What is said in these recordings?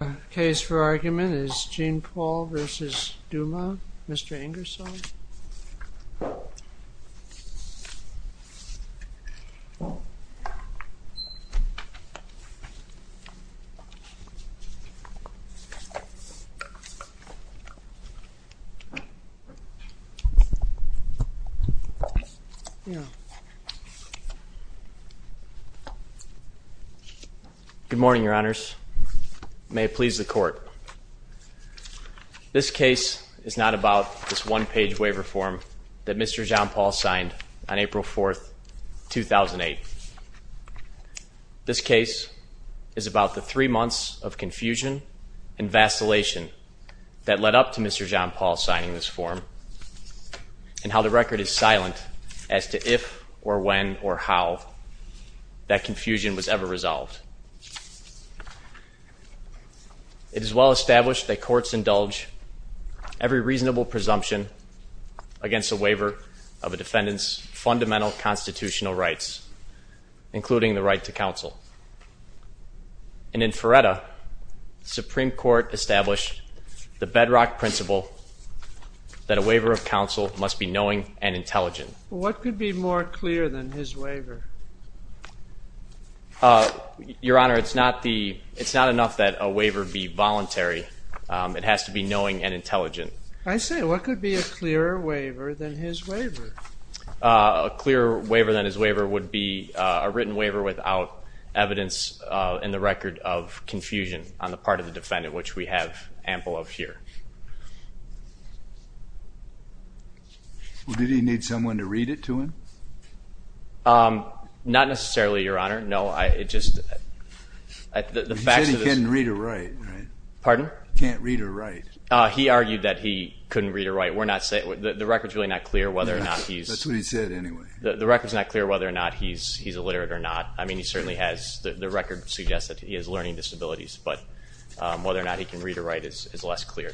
The case for argument is Jean-Paul v. Douma, Mr. Ingersoll. Good morning, Your Honors. May it please the Court, this case is not about this one page waiver form that Mr. Jean-Paul signed on April 4th, 2008. This case is about the three months of confusion and vacillation that led up to Mr. Jean-Paul signing this form and how the record is silent as to if or when or how that confusion was ever resolved. It of a defendant's fundamental constitutional rights, including the right to counsel. And in Feretta, the Supreme Court established the bedrock principle that a waiver of counsel must be knowing and intelligent. What could be more clear than his waiver? Your Honor, it's not enough that a waiver be voluntary. It has to be knowing and intelligent. I say, what could be a clearer waiver than his waiver? A clearer waiver than his waiver would be a written waiver without evidence in the record of confusion on the part of the defendant, which we have ample of here. Well, did he need someone to read it to him? Not necessarily, Your Honor. No, it just... He said he couldn't read or write. Pardon? Can't read or write. He argued that he couldn't read or write. We're not saying... The record's really not clear whether or not he's... That's what he said anyway. The record's not clear whether or not he's illiterate or not. I mean, he certainly has... The record suggests that he has learning disabilities, but whether or not he can read or write is less clear.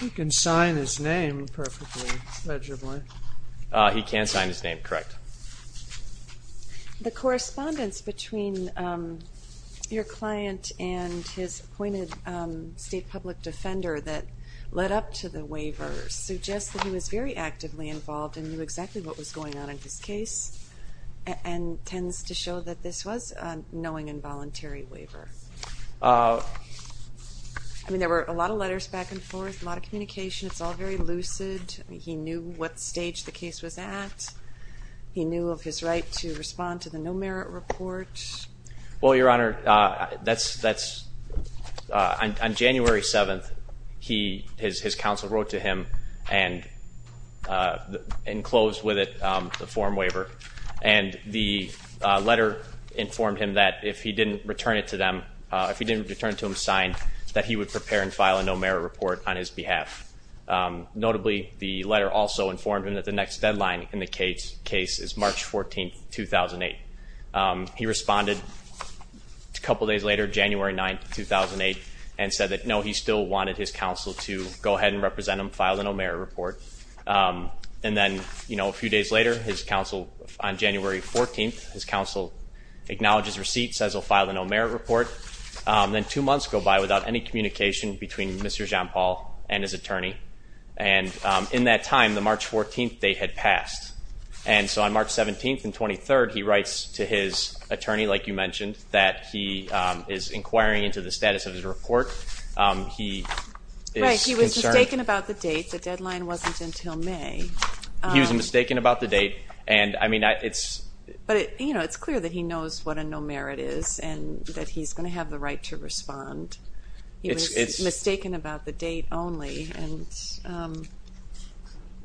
He can sign his name perfectly, legibly. He can sign his name, correct. The correspondence between your client and his appointed state public defender that led up to the waiver suggests that he was very actively involved and knew exactly what was going on in his case, and tends to show that this was a knowing and voluntary waiver. I mean, there were a lot of letters back and forth, a lot of communication. It's all very lucid. He knew what stage the case was at. He knew of his right to respond to the no-merit report. Well, Your Honor, that's... On January 7th, his counsel wrote to him and closed with it the form waiver. And the letter informed him that if he didn't return it to them, if he didn't return it to him signed, that he would prepare and file a no-merit report on his behalf. Notably, the letter also informed him that the next deadline in the case is March 14th, 2008. He responded a couple days later, January 9th, 2008, and said that, no, he still wanted his counsel to go ahead and represent him, file the no-merit report. And then, you know, a few days later, his counsel, on January 14th, his counsel acknowledges receipt, says he'll file the no-merit report. Then two months go by without any communication between Mr. Jean-Paul and his attorney. And in that time, the March 14th, they had passed. And so on March 17th and 23rd, he writes to his attorney, like you mentioned, that he is inquiring into the status of his report. He was mistaken about the date. The deadline wasn't until May. He was mistaken about the date and, I mean, it's clear that he knows what a no-merit is and that he's going to have the right to respond. He was mistaken about the date only and,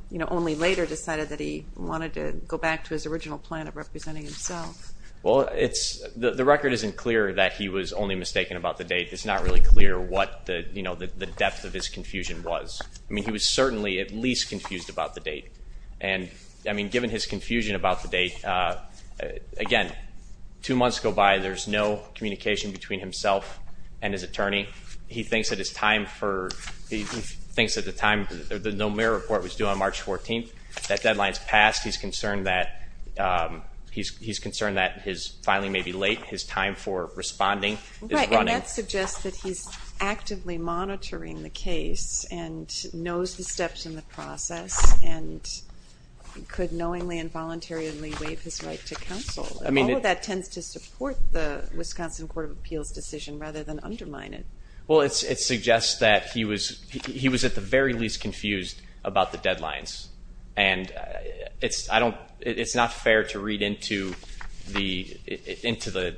you know, only later decided that he wanted to go back to his original plan of No-merit isn't clear that he was only mistaken about the date. It's not really clear what the, you know, the depth of his confusion was. I mean, he was certainly at least confused about the date. And, I mean, given his confusion about the date, again, two months go by, there's no communication between himself and his attorney. He thinks that his time for, he thinks that the time, the no-merit report was due on March 14th. That deadline's passed. He's concerned that, he's concerned that his filing may be late. His time for responding is running. And that suggests that he's actively monitoring the case and knows the steps in the process and could knowingly and voluntarily waive his right to counsel. All of that tends to support the Wisconsin Court of Appeals decision rather than undermine it. Well, it suggests that he was at the very least confused about the deadlines. And it's, it's not fair to read into the, into the,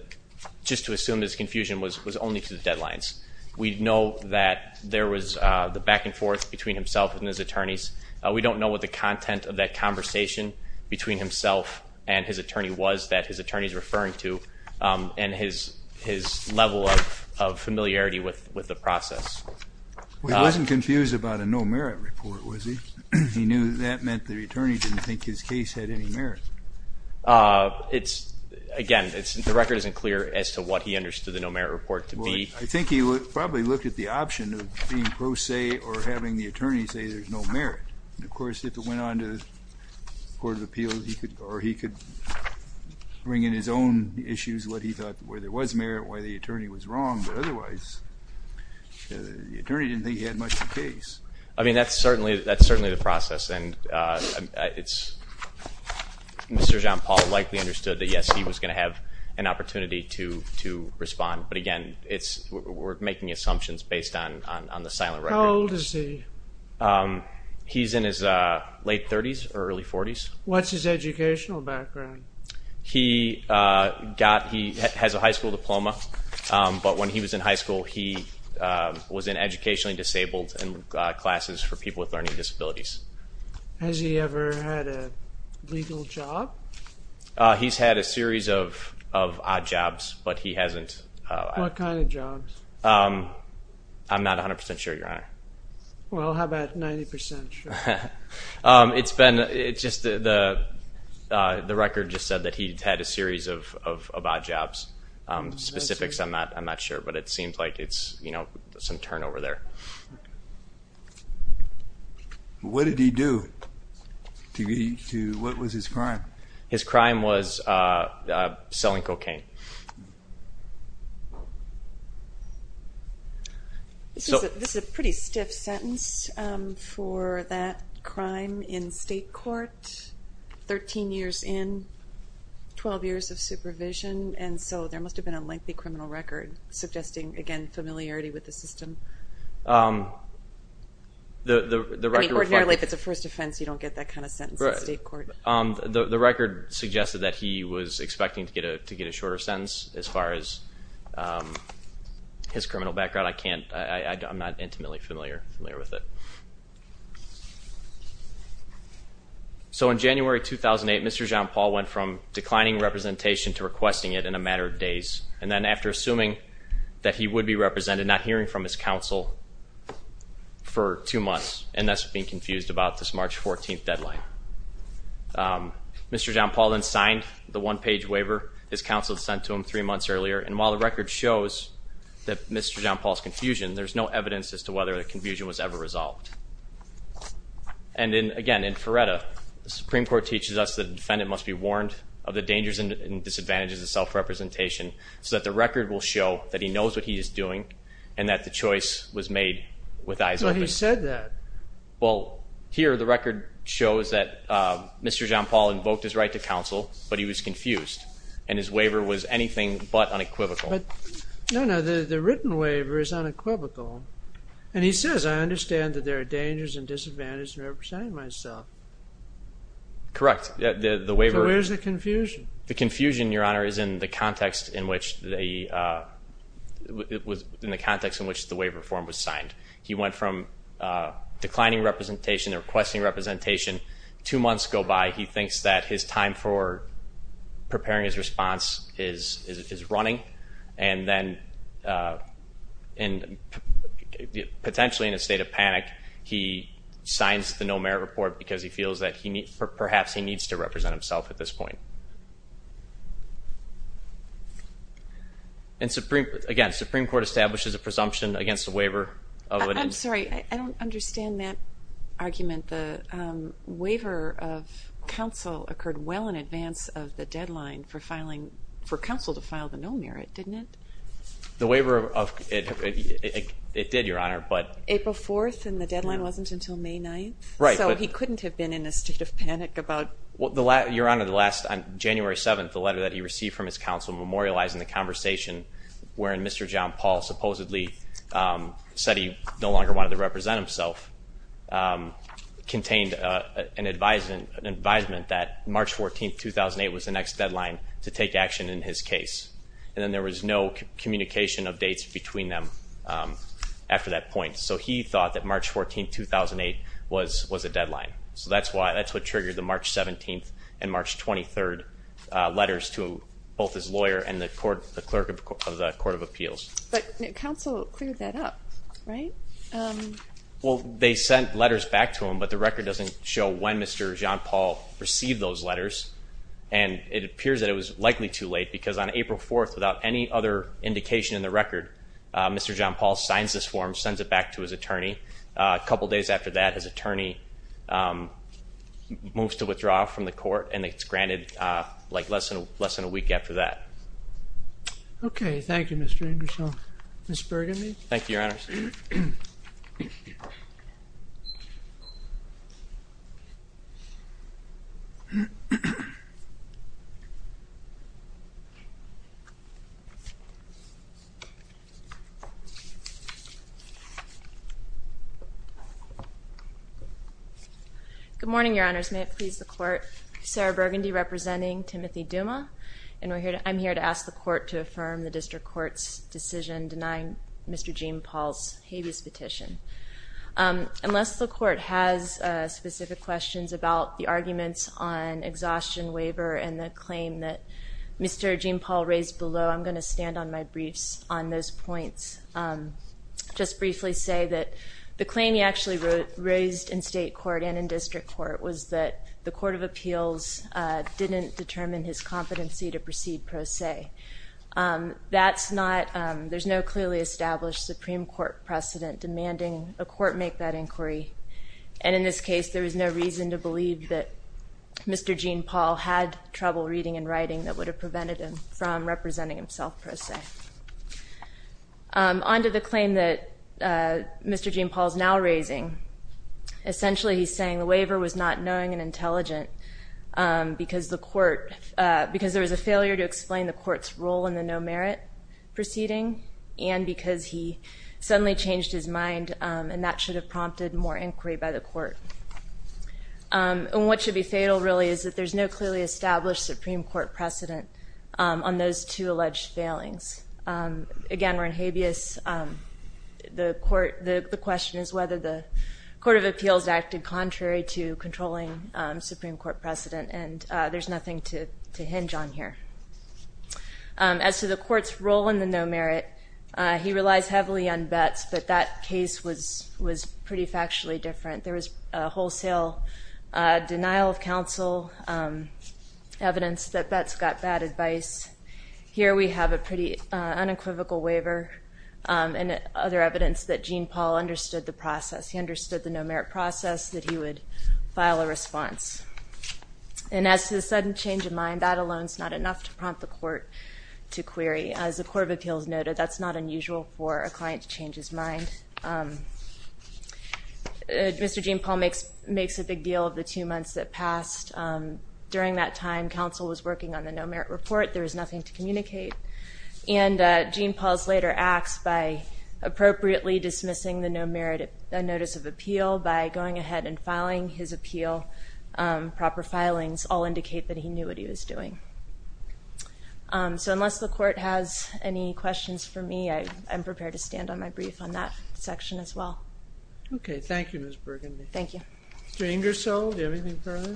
just to assume his confusion was only to the deadlines. We know that there was the back and forth between himself and his attorneys. We don't know what the content of that conversation between himself and his attorney was that his attorney's referring to and his level of familiarity with the process. He wasn't confused about a no-merit report, was he? He knew that meant the attorney didn't think his case had any merit. It's, again, it's, the record isn't clear as to what he understood the no-merit report to be. I think he would probably look at the option of being pro se or having the attorney say there's no merit. Of course, if it went on to the Court of Appeals, he could, or he could bring in his own issues, what he thought, where there was merit, why the attorney was wrong. But otherwise, the attorney didn't think he had much of a case. I mean, that's certainly, that's Mr. Jean-Paul likely understood that, yes, he was going to have an opportunity to respond, but again, it's, we're making assumptions based on the silent record. How old is he? He's in his late 30s or early 40s. What's his educational background? He got, he has a high school diploma, but when he was in high school, he was in educationally uneducated, and he had a, he had a legal job. He's had a series of, of odd jobs, but he hasn't. What kind of jobs? I'm not 100% sure, Your Honor. Well, how about 90% sure? It's been, it's just the, the record just said that he had a series of, of odd jobs. Specifics, I'm not, I'm not sure, but it seems like it's, you know, some turnover there. What did he do? What was his crime? His crime was selling cocaine. This is a pretty stiff sentence for that crime in state court. Thirteen years in, 12 years of supervision, and so there must have been a lengthy criminal record suggesting, again, familiarity with the system. I mean, ordinarily, if it's a first offense, you don't get that kind of sentence in state court. The record suggested that he was expecting to get a, to get a shorter sentence as far as his criminal background. I can't, I'm not intimately familiar, familiar with it. So in January 2008, Mr. Jean-Paul went from declining representation to requesting it in a matter of days, and then after assuming that he would be represented, not hearing from his counsel for two months, and thus being confused about this March 14th deadline. Mr. Jean-Paul then signed the one-page waiver his counsel had sent to him three months earlier, and while the record shows that Mr. Jean-Paul's confusion, there's no evidence as to whether the confusion was ever resolved. And in, again, in Feretta, the Supreme Court teaches us that the defendant must be warned of the dangers and disadvantages of self-representation so that the record will show that he knows what he is doing and that the choice was made with eyes open. Well, he said that. Well, here the record shows that Mr. Jean-Paul invoked his right to counsel, but he was confused, and his waiver was anything but unequivocal. But, no, no, the written waiver is unequivocal, and he says, I understand that there are dangers and disadvantages in representing myself. Correct. So where's the confusion? The confusion, Your Honor, is in the context in which the waiver form was signed. He went from declining representation to requesting representation. Two months go by. He thinks that his time for preparing his response is running, and then potentially in a state of panic he signs the no-merit report because he feels that perhaps he needs to represent himself at this point. Again, the Supreme Court establishes a presumption against the waiver. I'm sorry, I don't understand that argument. The waiver of counsel occurred well in advance of the deadline for counsel to file the no-merit, didn't it? The waiver, it did, Your Honor. April 4th, and the deadline wasn't until May 9th? Right. So he couldn't have been in a state of panic about it? Your Honor, on January 7th, the letter that he received from his counsel memorializing the conversation wherein Mr. John Paul supposedly said he no longer wanted to represent himself contained an advisement that March 14th, 2008, was the next deadline to take action in his case. And then there was no communication of dates between them after that point. So he thought that March 14th, 2008, was a deadline. So that's what triggered the March 17th and March 23rd letters to both his lawyer and the clerk of the Court of Appeals. But counsel cleared that up, right? Well, they sent letters back to him, but the record doesn't show when Mr. John Paul received those letters, and it appears that it was likely too late because on April 4th, without any other indication in the record, Mr. John Paul signs this form, sends it back to his attorney. A couple days after that, his attorney moves to withdraw from the court, and it's granted like less than a week after that. Okay. Thank you, Mr. Anderson. Ms. Burgamy? Thank you, Your Honor. Good morning, Your Honors. May it please the Court? Sarah Burgandy representing Timothy Duma, and I'm here to ask the Court to affirm the district court's decision denying Mr. Jean Paul's habeas petition. Unless the Court has specific questions about the arguments on exhaustion waiver and the claim that Mr. Jean Paul raised below, I'm going to stand on my briefs on those points. Just briefly say that the claim he actually raised in state court and in district court was that the Court of Appeals didn't determine his competency to proceed pro se. That's not ñ there's no clearly established Supreme Court precedent demanding a court make that inquiry, and in this case there was no reason to believe that Mr. Jean Paul had trouble reading and writing that would have prevented him from representing himself pro se. On to the claim that Mr. Jean Paul is now raising. Essentially he's saying the waiver was not knowing and intelligent because there was a failure to explain the Court's role in the no-merit proceeding and because he suddenly changed his mind, and that should have prompted more inquiry by the Court. And what should be fatal really is that there's no clearly established Supreme Court precedent on those two alleged failings. Again, we're in habeas. The question is whether the Court of Appeals acted contrary to controlling Supreme Court precedent, and there's nothing to hinge on here. As to the Court's role in the no-merit, he relies heavily on bets, but that case was pretty factually different. There was wholesale denial of counsel, evidence that bets got bad advice. Here we have a pretty unequivocal waiver and other evidence that Jean Paul understood the process. He understood the no-merit process, that he would file a response. And as to the sudden change of mind, that alone is not enough to prompt the Court to query. As the Court of Appeals noted, that's not unusual for a client to change his mind. Mr. Jean Paul makes a big deal of the two months that passed. During that time, counsel was working on the no-merit report. There was nothing to communicate. And Jean Paul's later acts by appropriately dismissing the no-merit notice of appeal by going ahead and filing his appeal proper filings all indicate that he knew what he was doing. So unless the Court has any questions for me, I'm prepared to stand on my brief on that section as well. Okay. Thank you, Ms. Burgundy. Thank you. Mr. Ingersoll, do you have anything further?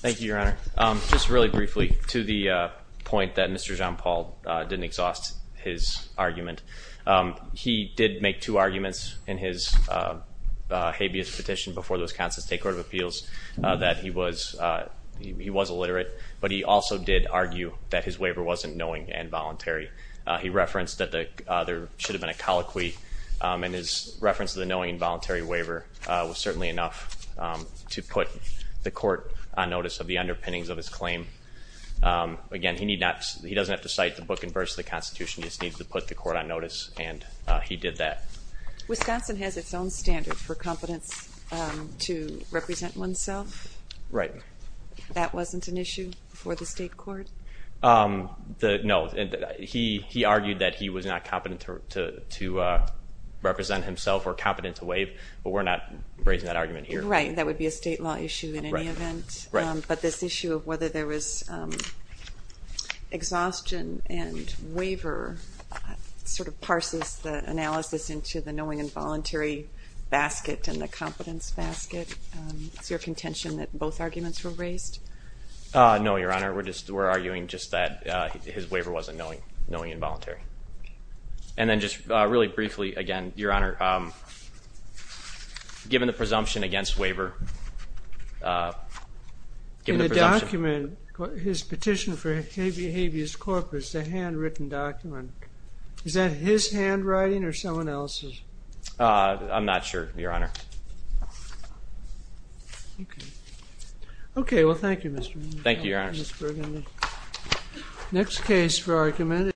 Thank you, Your Honor. Just really briefly to the point that Mr. Jean Paul didn't exhaust his argument. He did make two arguments in his habeas petition before the Wisconsin State Court of Appeals. That he was illiterate, but he also did argue that his waiver wasn't knowing and voluntary. He referenced that there should have been a colloquy, and his reference to the knowing and voluntary waiver was certainly enough to put the Court on notice of the underpinnings of his claim. Again, he doesn't have to cite the book and verse of the Constitution. He just needs to put the Court on notice, and he did that. Wisconsin has its own standard for competence to represent oneself. Right. That wasn't an issue before the state court? No. He argued that he was not competent to represent himself or competent to waive, but we're not raising that argument here. Right. That would be a state law issue in any event. Right. But this issue of whether there was exhaustion and waiver sort of parses the analysis into the knowing and voluntary basket and the competence basket. Is there a contention that both arguments were raised? No, Your Honor. We're arguing just that his waiver wasn't knowing and voluntary. And then just really briefly, again, Your Honor, given the presumption against waiver, given the presumption. In the document, his petition for habeas corpus, the handwritten document, is that his handwriting or someone else's? I'm not sure, Your Honor. Okay. Okay, well, thank you, Mr. Berman. Thank you, Your Honors. Next case for argument.